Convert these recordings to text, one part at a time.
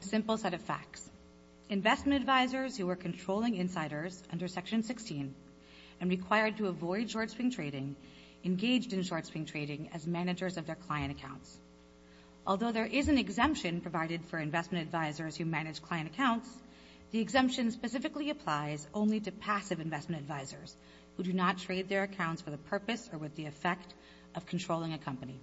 Simple set of facts. Investment advisors who were controlling insiders under Section 16 and required to avoid short-swing trading engaged in short-swing trading as managers of their client accounts. Although there is an exemption provided for investment advisors who manage client accounts, the exemption specifically applies only to passive investment advisors who do not trade their accounts for the purpose or with the effect of controlling a company.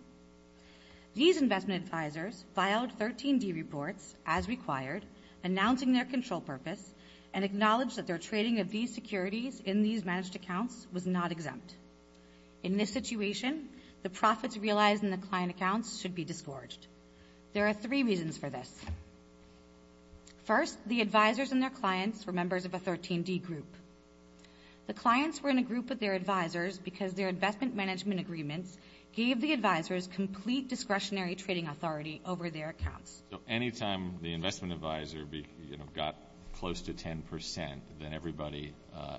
These investment advisors filed 13-D reports as required, announcing their control purpose and acknowledged that their trading of these securities in these managed accounts was not exempt. In this situation, the profits realized in the client accounts should be disgorged. There are three reasons for this. First, the advisors and their clients were members of a 13-D group. The clients were in a group of their advisors because their investment management agreements gave the advisors complete discretionary trading authority over their accounts. So any time the investment advisor got close to 10 percent, then everybody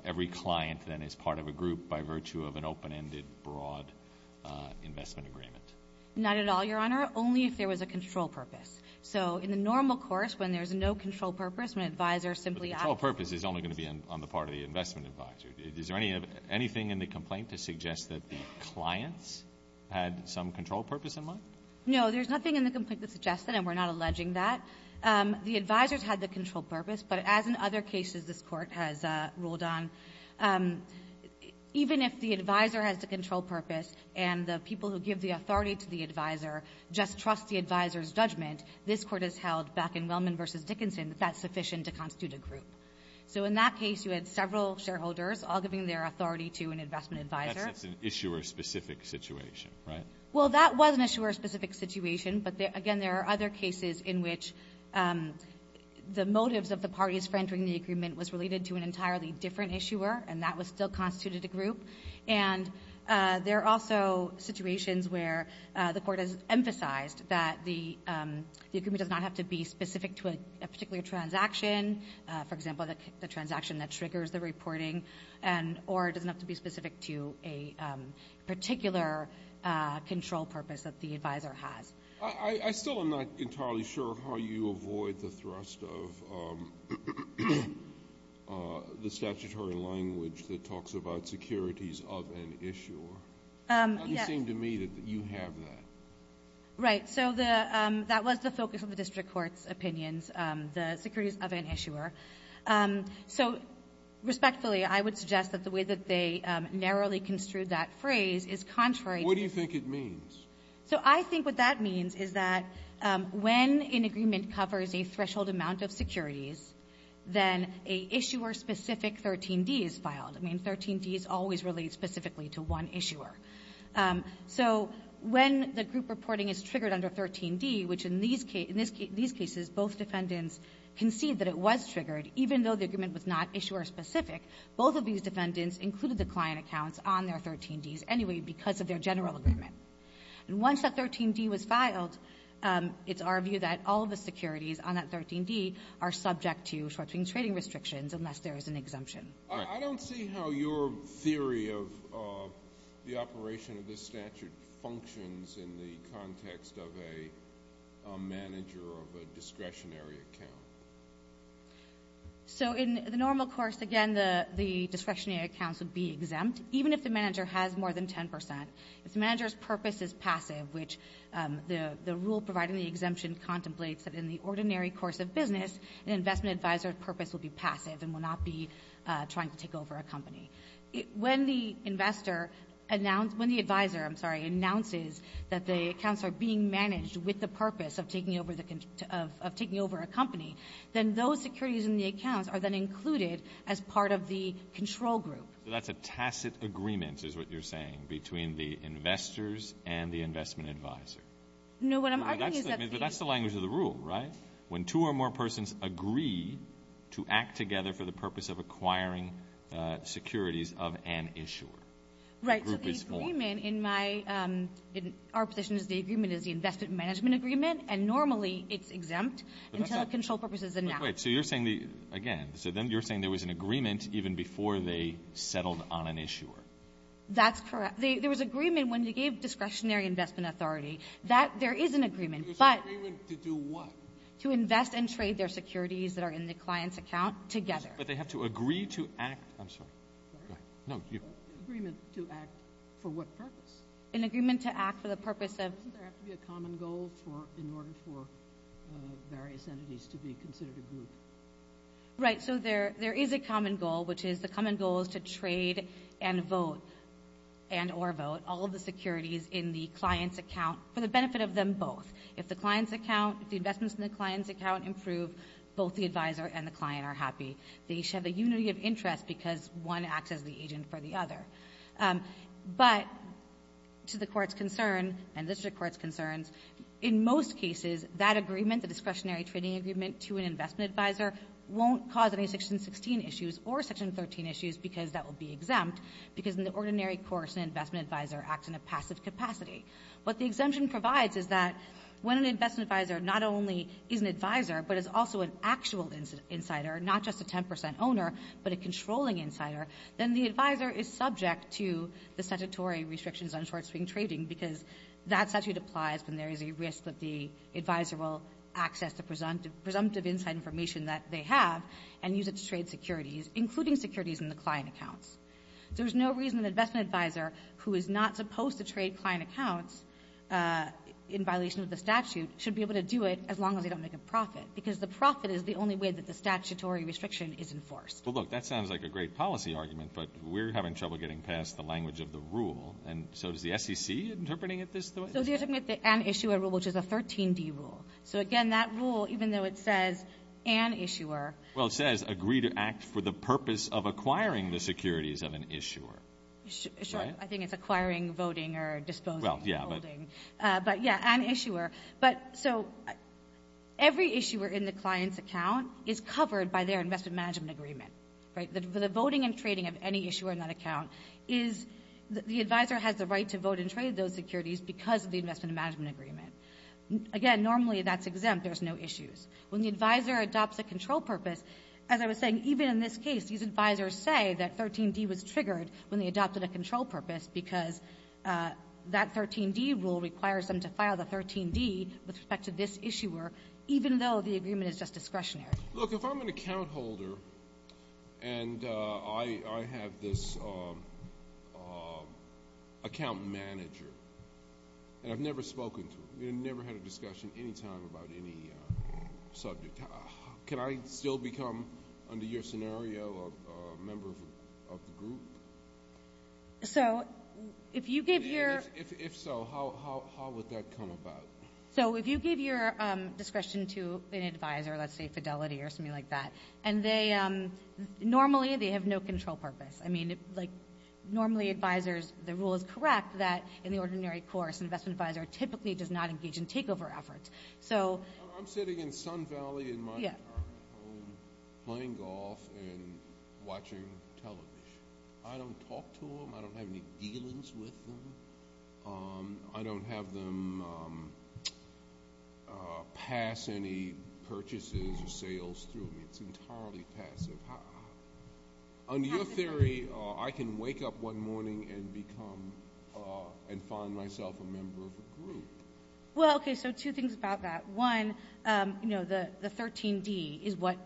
every client then is part of a group by virtue of an open-ended, broad investment agreement? Not at all, Your Honor, only if there was a control purpose. So in the normal course, when there's no control purpose, an advisor simply The control purpose is only going to be on the part of the investment advisor. Is there anything in the complaint to suggest that the clients had some control purpose in mind? No. There's nothing in the complaint that suggests that, and we're not alleging that. The advisors had the control purpose, but as in other cases this Court has ruled on, even if the advisor has the control purpose and the people who give the authority to the advisor just trust the advisor's judgment, this Court has held back in Wellman v. Dickinson that that's sufficient to constitute a group. So in that case, you had several shareholders all giving their authority to an investment advisor. That's an issuer-specific situation, right? Well, that was an issuer-specific situation, but again, there are other cases in which the motives of the parties for entering the agreement was related to an entirely different issuer, and that still constituted a group. And there are also situations where the Court has emphasized that the agreement does not have to be specific to a particular transaction, for example, the transaction that triggers the reporting, or it doesn't have to be specific to a particular control purpose that the advisor has. I still am not entirely sure how you avoid the thrust of the statutory language that talks about securities of an issuer. Yes. How do you seem to me that you have that? Right. So that was the focus of the District Court's opinions, the securities of an issuer. So respectfully, I would suggest that the way that they narrowly construed that phrase is contrary to the ---- What do you think it means? So I think what that means is that when an agreement covers a threshold amount of securities, then a issuer-specific 13d is filed. I mean, 13d is always related specifically to one issuer. So when the group reporting is triggered under 13d, which in these cases both defendants concede that it was triggered, even though the agreement was not issuer-specific, both of these defendants included the client accounts on their 13ds anyway because of their general agreement. And once that 13d was filed, it's our view that all of the securities on that 13d are subject to short-term trading restrictions unless there is an exemption. I don't see how your theory of the operation of this statute functions in the context of a manager of a discretionary account. So in the normal course, again, the discretionary accounts would be exempt, even if the manager has more than 10 percent. If the manager's purpose is passive, which the rule providing the exemption contemplates that in the ordinary course of business, an investment advisor's purpose would be passive and would not be trying to take over a company. When the investor announced – when the advisor, I'm sorry, announces that the accounts are being managed with the purpose of taking over the – of taking over a company, then those securities in the accounts are then included as part of the control group. So that's a tacit agreement, is what you're saying, between the investors and the investment No, what I'm arguing is that the – But that's the language of the rule, right? When two or more persons agree to act together for the purpose of acquiring securities of an issuer, the group is formed. Right. So the agreement in my – in our position is the agreement is the investment management agreement, and normally it's exempt until a control purpose is announced. But wait. So you're saying the – again, so then you're saying there was an agreement even before they settled on an issuer. That's correct. There was agreement when you gave discretionary investment authority. That – there is an agreement, but – There's an agreement to do what? To invest and trade their securities that are in the client's account together. But they have to agree to act – I'm sorry. Go ahead. No, you. An agreement to act for what purpose? An agreement to act for the purpose of – Doesn't there have to be a common goal for – in order for various entities to be considered a group? Right. So there is a common goal, which is the common goal is to trade and vote and or vote all of the securities in the client's account for the benefit of them both. If the investments in the client's account improve, both the advisor and the client are happy. They each have a unity of interest because one acts as the agent for the other. But to the Court's concern and the district court's concerns, in most cases, that agreement, the discretionary trading agreement to an investment advisor, won't cause any Section 16 issues or Section 13 issues because that will be exempt because in the ordinary course, an investment advisor acts in a passive capacity. What the exemption provides is that when an investment advisor not only is an advisor but is also an actual insider, not just a 10 percent owner, but a controlling insider, then the advisor is subject to the statutory restrictions on short-swing trading because that statute applies when there is a risk that the advisor will access the presumptive inside information that they have and use it to trade securities, including securities in the client accounts. There is no reason that an investment advisor who is not supposed to trade client accounts in violation of the statute should be able to do it as long as they don't make a profit because the profit is the only way that the statutory restriction is enforced. Well, look, that sounds like a great policy argument, but we're having trouble getting past the language of the rule, and so is the SEC interpreting it this way? So they're interpreting it the an issuer rule, which is a 13-D rule. So, again, that rule, even though it says an issuer. Well, it says agree to act for the purpose of acquiring the securities of an issuer. Sure. I think it's acquiring, voting, or disposing. Well, yeah, but. But, yeah, an issuer. So every issuer in the client's account is covered by their investment management agreement, right? The voting and trading of any issuer in that account is the advisor has the right to vote and trade those securities because of the investment management agreement. Again, normally that's exempt. There's no issues. When the advisor adopts a control purpose, as I was saying, even in this case, these advisors say that 13-D was triggered when they adopted a control purpose because that 13-D rule requires them to file the 13-D with respect to this issuer, even though the agreement is just discretionary. Look, if I'm an account holder and I have this account manager, and I've never had a discussion any time about any subject, can I still become, under your scenario, a member of the group? So if you give your... If so, how would that come about? So if you give your discretion to an advisor, let's say Fidelity or something like that, and normally they have no control purpose. I mean, normally advisors, the rule is correct that in the ordinary course, an investment advisor typically does not engage in takeover efforts. I'm sitting in Sun Valley in my apartment home playing golf and watching television. I don't talk to them. I don't have any dealings with them. I don't have them pass any purchases or sales through me. It's entirely passive. Under your theory, I can wake up one morning and find myself a member of a group. Well, okay, so two things about that. One, the 13-D is what,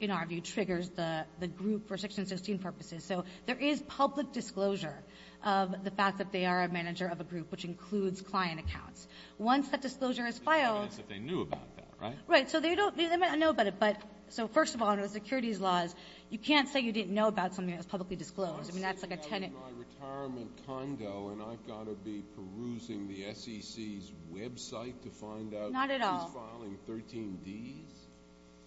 in our view, triggers the group for Section 16 purposes. So there is public disclosure of the fact that they are a manager of a group, which includes client accounts. Once that disclosure is filed... There's no evidence that they knew about that, right? Right. So they don't know about it. So first of all, under the securities laws, you can't say you didn't know about something that was publicly disclosed. I mean, that's like a tenant... I'm sitting out in my retirement condo, and I've got to be perusing the SEC's website to find out who's filing 13-Ds? Not at all.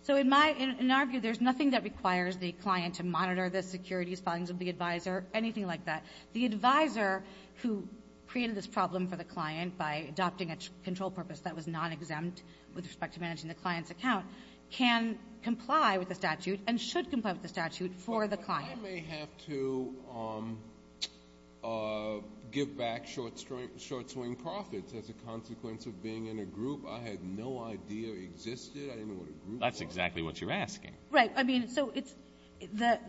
So in our view, there's nothing that requires the client to monitor the securities filings of the advisor, anything like that. The advisor who created this problem for the client by adopting a control purpose that was non-exempt with respect to managing the client's account can comply with the statute and should comply with the statute for the client. But I may have to give back short-swing profits as a consequence of being in a group. I had no idea existed. I didn't know what a group was. That's exactly what you're asking. Right. I mean, so it's the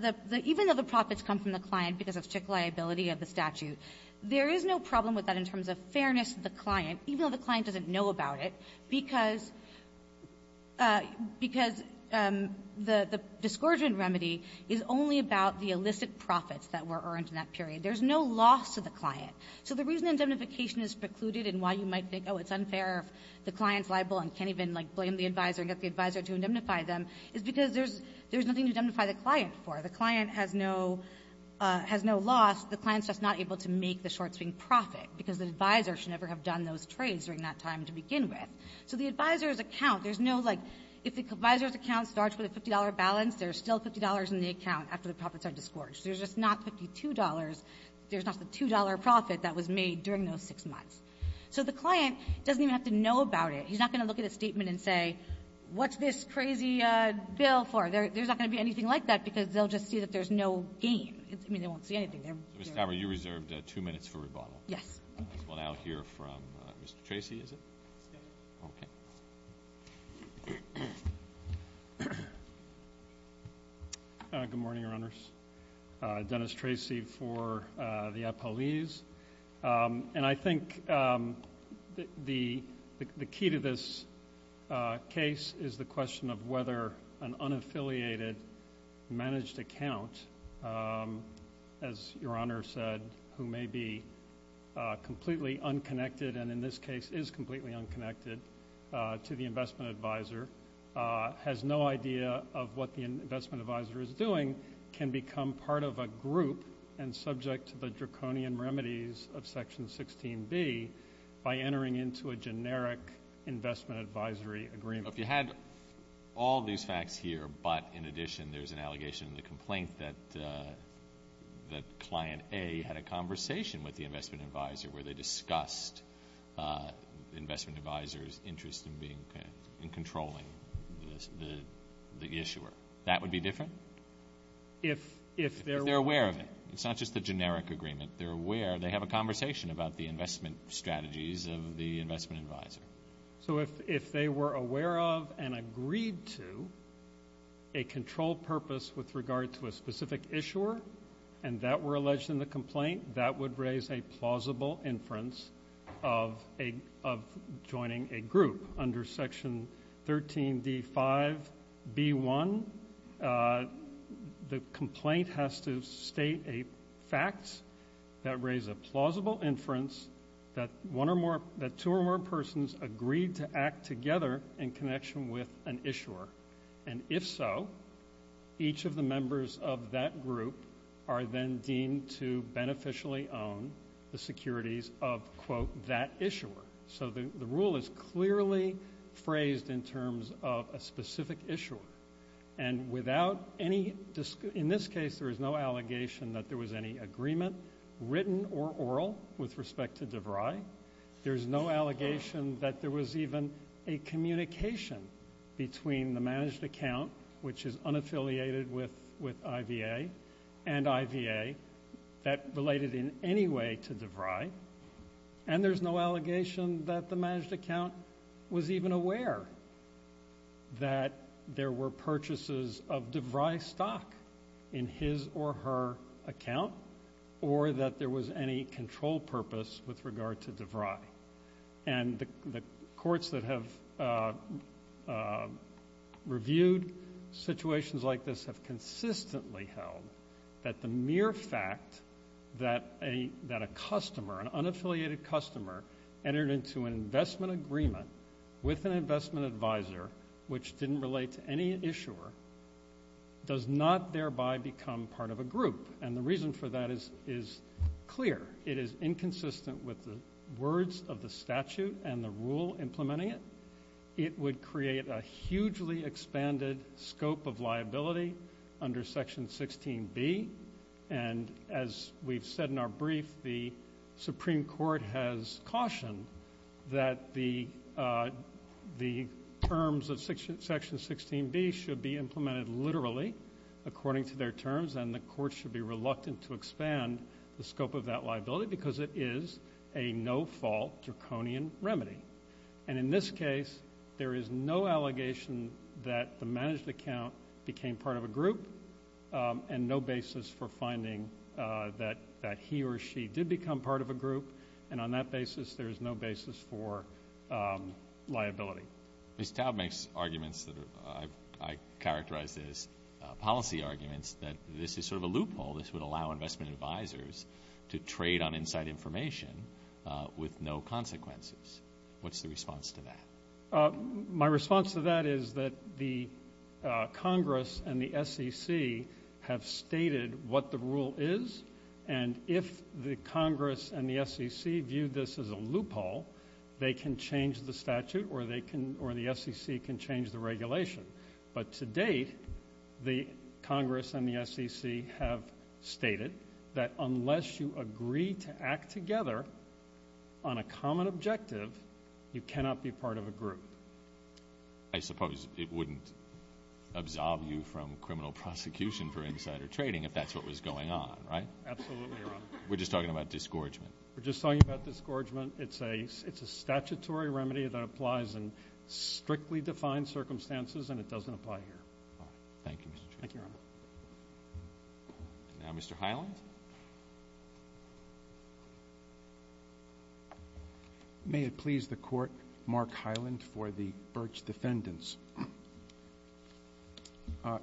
— even though the profits come from the client because of strict because the discouragement remedy is only about the illicit profits that were earned in that period. There's no loss to the client. So the reason indemnification is precluded and why you might think, oh, it's unfair if the client's liable and can't even, like, blame the advisor and get the advisor to indemnify them is because there's nothing to indemnify the client for. The client has no loss. The client's just not able to make the short-swing profit because the advisor should So the advisor's account, there's no, like, if the advisor's account starts with a $50 balance, there's still $50 in the account after the profits are discouraged. There's just not $52. There's not the $2 profit that was made during those six months. So the client doesn't even have to know about it. He's not going to look at a statement and say, what's this crazy bill for? There's not going to be anything like that because they'll just see that there's no gain. I mean, they won't see anything. They're — Mr. Tamra, you reserved two minutes for rebuttal. Yes. There's one out here from Mr. Tracy, is it? Yes. Good morning, Your Honors. Dennis Tracy for the Apolles. And I think the key to this case is the question of whether an unaffiliated managed account, as Your Honor said, who may be completely unconnected and, in this case, is completely unconnected to the investment advisor, has no idea of what the investment advisor is doing, can become part of a group and subject to the draconian remedies of Section 16B by entering into a generic investment advisory agreement. If you had all these facts here but, in addition, there's an allegation in the complaint that Client A had a conversation with the investment advisor where they discussed the investment advisor's interest in controlling the issuer, that would be different? If they're aware of it. If they're aware of it. It's not just a generic agreement. They're aware. They have a conversation about the investment strategies of the investment advisor. So if they were aware of and agreed to a control purpose with regard to a specific issuer and that were alleged in the complaint, that would raise a plausible inference of joining a group. Under Section 13D5B1, the complaint has to state a fact that raised a plausible inference that two or more persons agreed to act together in connection with an issuer. And if so, each of the members of that group are then deemed to beneficially own the securities of, quote, that issuer. So the rule is clearly phrased in terms of a specific issuer. And in this case, there is no allegation that there was any agreement, written or oral, with respect to DeVry. There's no allegation that there was even a communication between the managed account, which is unaffiliated with IVA, and IVA that related in any way to DeVry. And there's no allegation that the managed account was even aware that there were purchases of DeVry stock in his or her account or that there was any control purpose with regard to DeVry. And the courts that have reviewed situations like this have consistently held that the mere fact that a customer, an unaffiliated customer, entered into an investment agreement with an investment advisor, which didn't relate to any issuer, does not thereby become part of a group. And the reason for that is clear. It is inconsistent with the words of the statute and the rule implementing it. It would create a hugely expanded scope of liability under Section 16B. And as we've said in our brief, the Supreme Court has cautioned that the terms of Section 16B should be implemented literally according to their terms, and the courts should be reluctant to expand the scope of that liability because it is a no-fault draconian remedy. And in this case, there is no allegation that the managed account became part of a group and no basis for finding that he or she did become part of a group. And on that basis, there is no basis for liability. Mr. Taub makes arguments that I characterize as policy arguments that this is sort of a loophole. This would allow investment advisors to trade on inside information with no consequences. What's the response to that? My response to that is that the Congress and the SEC have stated what the rule is, and if the Congress and the SEC view this as a loophole, they can change the statute or the SEC can change the regulation. But to date, the Congress and the SEC have stated that unless you agree to act together on a common objective, you cannot be part of a group. I suppose it wouldn't absolve you from criminal prosecution for insider trading if that's what was going on, right? Absolutely, Your Honor. We're just talking about disgorgement. We're just talking about disgorgement. It's a statutory remedy that applies in strictly defined circumstances, and it doesn't apply here. All right. Thank you, Mr. Chief. Thank you, Your Honor. Now Mr. Hyland. Mr. Hyland. May it please the Court, Mark Hyland for the Birch defendants.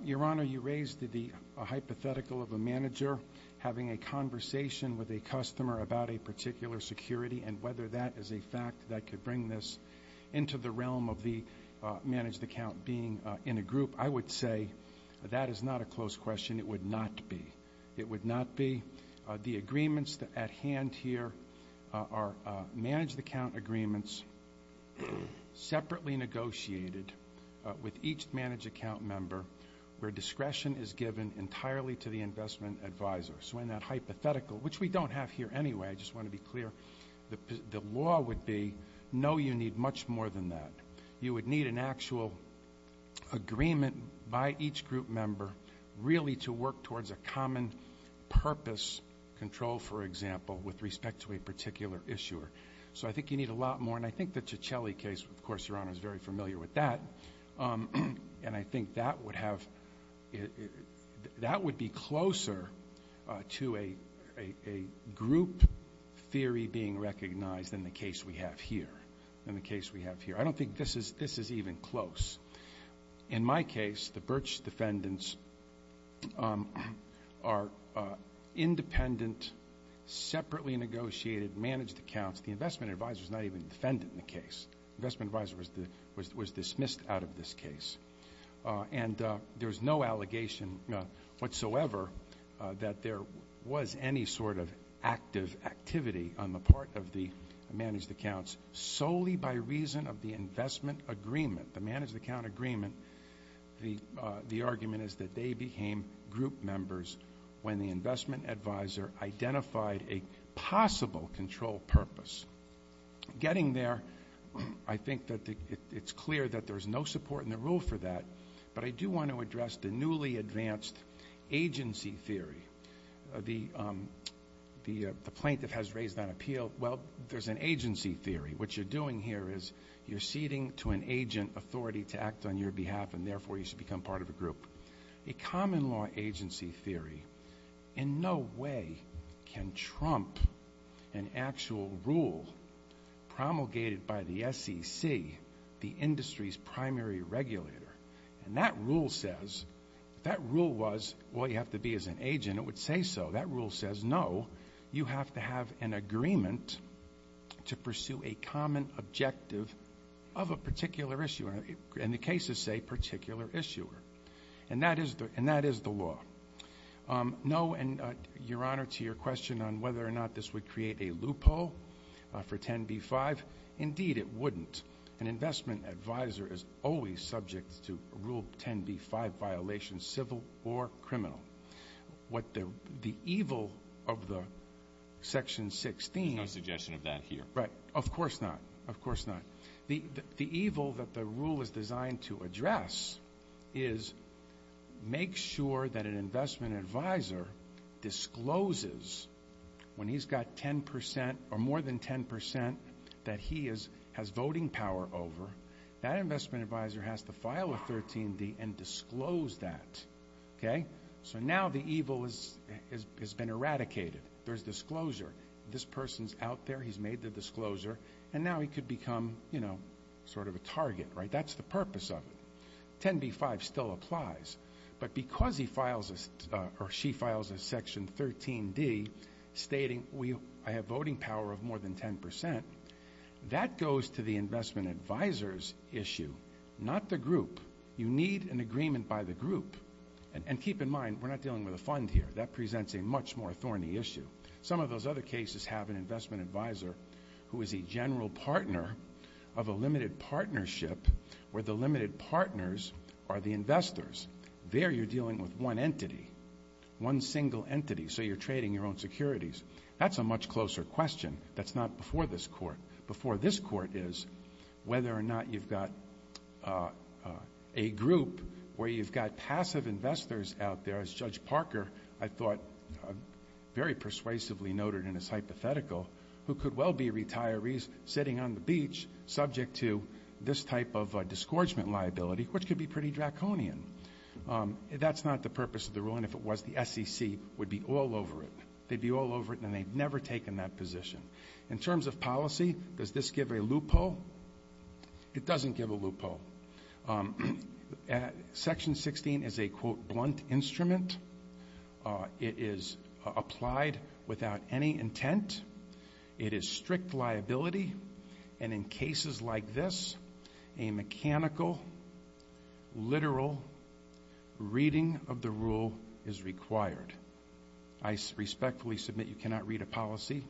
Your Honor, you raised the hypothetical of a manager having a conversation with a customer about a particular security and whether that is a fact that could bring this into the realm of the managed account being in a group. I would say that is not a close question. It would not be. It would not be. The agreements at hand here are managed account agreements separately negotiated with each managed account member where discretion is given entirely to the investment advisor. So in that hypothetical, which we don't have here anyway, I just want to be clear, the law would be no, you need much more than that. You would need an actual agreement by each group member really to work towards a common purpose control, for example, with respect to a particular issuer. So I think you need a lot more. And I think the Cicelli case, of course, Your Honor, is very familiar with that. And I think that would be closer to a group theory being recognized than the case we have here, than the case we have here. I don't think this is even close. In my case, the Birch defendants are independent, separately negotiated managed accounts. The investment advisor is not even defendant in the case. The investment advisor was dismissed out of this case. And there is no allegation whatsoever that there was any sort of active activity on the part of the managed accounts solely by reason of the investment agreement, the managed account agreement. The argument is that they became group members when the investment advisor identified a possible control purpose. Getting there, I think that it's clear that there's no support in the rule for that. But I do want to address the newly advanced agency theory. The plaintiff has raised that appeal. Well, there's an agency theory. What you're doing here is you're ceding to an agent authority to act on your behalf, and therefore you should become part of a group. A common law agency theory in no way can trump an actual rule promulgated by the SEC, the industry's primary regulator. And that rule says, if that rule was, well, you have to be as an agent, it would say so. That rule says, no, you have to have an agreement to pursue a common objective of a particular issuer. And the cases say particular issuer. And that is the law. No, and Your Honor, to your question on whether or not this would create a loophole for 10b-5, indeed it wouldn't. An investment advisor is always subject to Rule 10b-5 violations, civil or criminal. What the evil of the Section 16. There's no suggestion of that here. Right, of course not, of course not. The evil that the rule is designed to address is make sure that an investment advisor discloses when he's got 10 percent or more than 10 percent that he has voting power over, that investment advisor has to file a 13b and disclose that. Okay? So now the evil has been eradicated. There's disclosure. This person's out there. He's made the disclosure. And now he could become, you know, sort of a target, right? That's the purpose of it. 10b-5 still applies. But because he files or she files a Section 13d stating I have voting power of more than 10 percent, that goes to the investment advisor's issue, not the group. You need an agreement by the group. And keep in mind, we're not dealing with a fund here. That presents a much more thorny issue. Some of those other cases have an investment advisor who is a general partner of a limited partnership where the limited partners are the investors. There you're dealing with one entity, one single entity, so you're trading your own securities. That's a much closer question. That's not before this Court. Before this Court is whether or not you've got a group where you've got passive investors out there. As Judge Parker, I thought, very persuasively noted in his hypothetical, who could well be retirees sitting on the beach subject to this type of disgorgement liability, which could be pretty draconian. That's not the purpose of the rule, and if it was, the SEC would be all over it. They'd be all over it, and they've never taken that position. In terms of policy, does this give a loophole? It doesn't give a loophole. Section 16 is a, quote, blunt instrument. It is applied without any intent. It is strict liability, and in cases like this, a mechanical, literal reading of the rule is required. I respectfully submit you cannot read a policy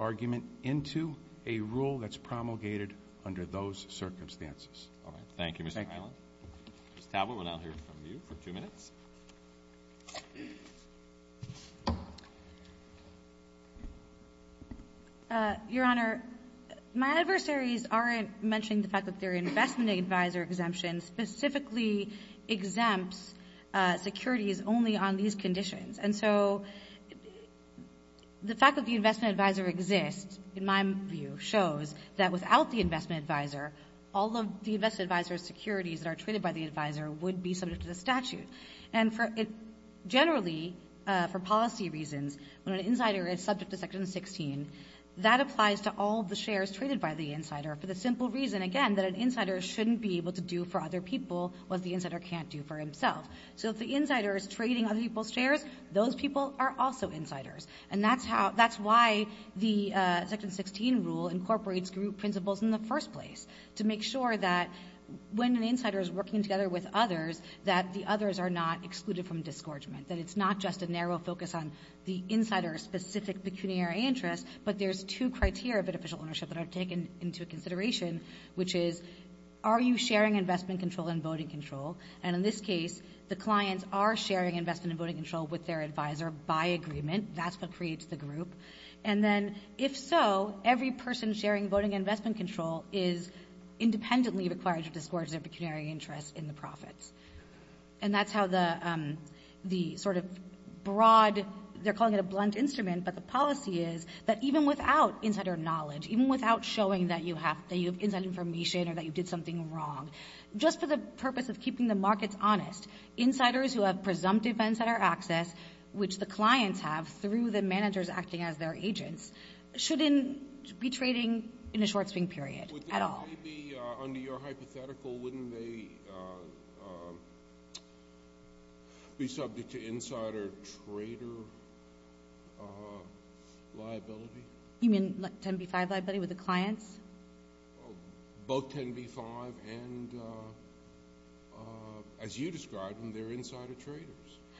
argument into a rule that's promulgated under those circumstances. All right. Thank you, Mr. Highland. Ms. Talbot, we'll now hear from you for two minutes. Your Honor, my adversaries aren't mentioning the fact that their investment advisor exemption specifically exempts securities only on these conditions, and so the fact that the investment advisor exists, in my view, shows that without the investment advisor, all of the investment advisor securities that are traded by the advisor would be subject to the statute. And generally, for policy reasons, when an insider is subject to Section 16, that applies to all the shares traded by the insider for the simple reason, again, that an insider shouldn't be able to do for other people what the insider can't do for himself. So if the insider is trading other people's shares, those people are also insiders, and that's how the Section 16 rule incorporates group principles in the first place to make sure that when an insider is working together with others, that the others are not excluded from disgorgement, that it's not just a narrow focus on the insider's specific pecuniary interest, but there's two criteria of beneficial ownership that are taken into consideration, which is are you sharing investment control and voting control? And in this case, the clients are sharing investment and voting control with their advisor by agreement. That's what creates the group. And then if so, every person sharing voting and investment control is independently required to disgorge their pecuniary interest in the profits. And that's how the sort of broad – they're calling it a blunt instrument, but the policy is that even without insider knowledge, even without showing that you have insider information or that you did something wrong, just for the purpose of keeping the markets honest, insiders who have presumptive events that are accessed, which the clients have through the managers acting as their agents, shouldn't be trading in a short-swing period at all. Under your hypothetical, wouldn't they be subject to insider trader liability? You mean 10b-5 liability with the clients? Both 10b-5 and, as you described, when they're insider traders.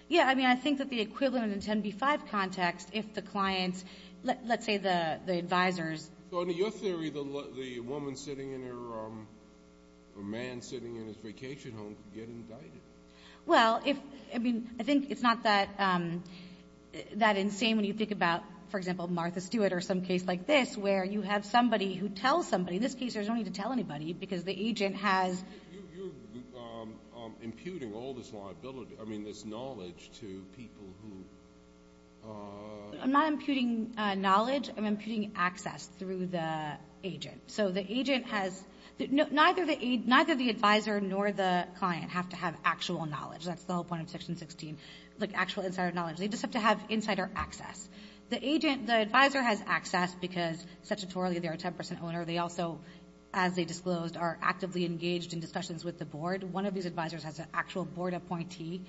Yeah. I mean, I think that the equivalent in 10b-5 context, if the clients – let's say the advisors. So under your theory, the woman sitting in her – the man sitting in his vacation home could get indicted. Well, if – I mean, I think it's not that insane when you think about, for example, Martha Stewart or some case like this where you have somebody who tells somebody. In this case, there's no need to tell anybody because the agent has – You're imputing all this liability – I mean, this knowledge to people who – I'm not imputing knowledge. I'm imputing access through the agent. So the agent has – neither the advisor nor the client have to have actual knowledge. That's the whole point of Section 16, like actual insider knowledge. They just have to have insider access. The advisor has access because, statutorily, they're a 10% owner. They also, as they disclosed, are actively engaged in discussions with the board. One of these advisors has an actual board appointee.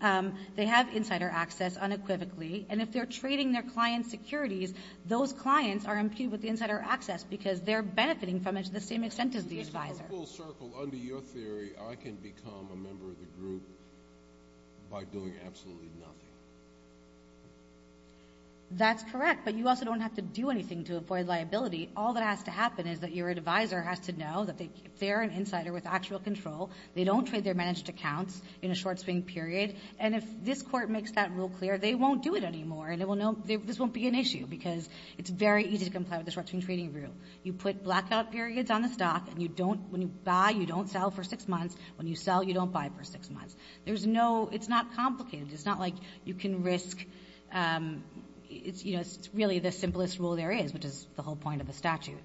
They have insider access unequivocally. And if they're trading their client's securities, those clients are imputed with the insider access because they're benefiting from it to the same extent as the advisor. So in full circle, under your theory, I can become a member of the group by doing absolutely nothing. That's correct, but you also don't have to do anything to avoid liability. All that has to happen is that your advisor has to know that they're an insider with actual control. They don't trade their managed accounts in a short-swing period. And if this court makes that rule clear, they won't do it anymore, and this won't be an issue because it's very easy to comply with the short-swing trading rule. You put blackout periods on the stock, and when you buy, you don't sell for six months. When you sell, you don't buy for six months. It's not complicated. It's not like you can risk. It's really the simplest rule there is, which is the whole point of the statute.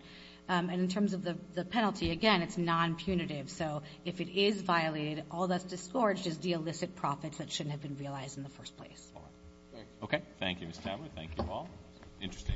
And in terms of the penalty, again, it's non-punitive. So if it is violated, all that's disgorged is the illicit profits that shouldn't have been realized in the first place. All right. Thank you. Okay. Thank you, Ms. Taber. Thank you all. Interesting and well-argued.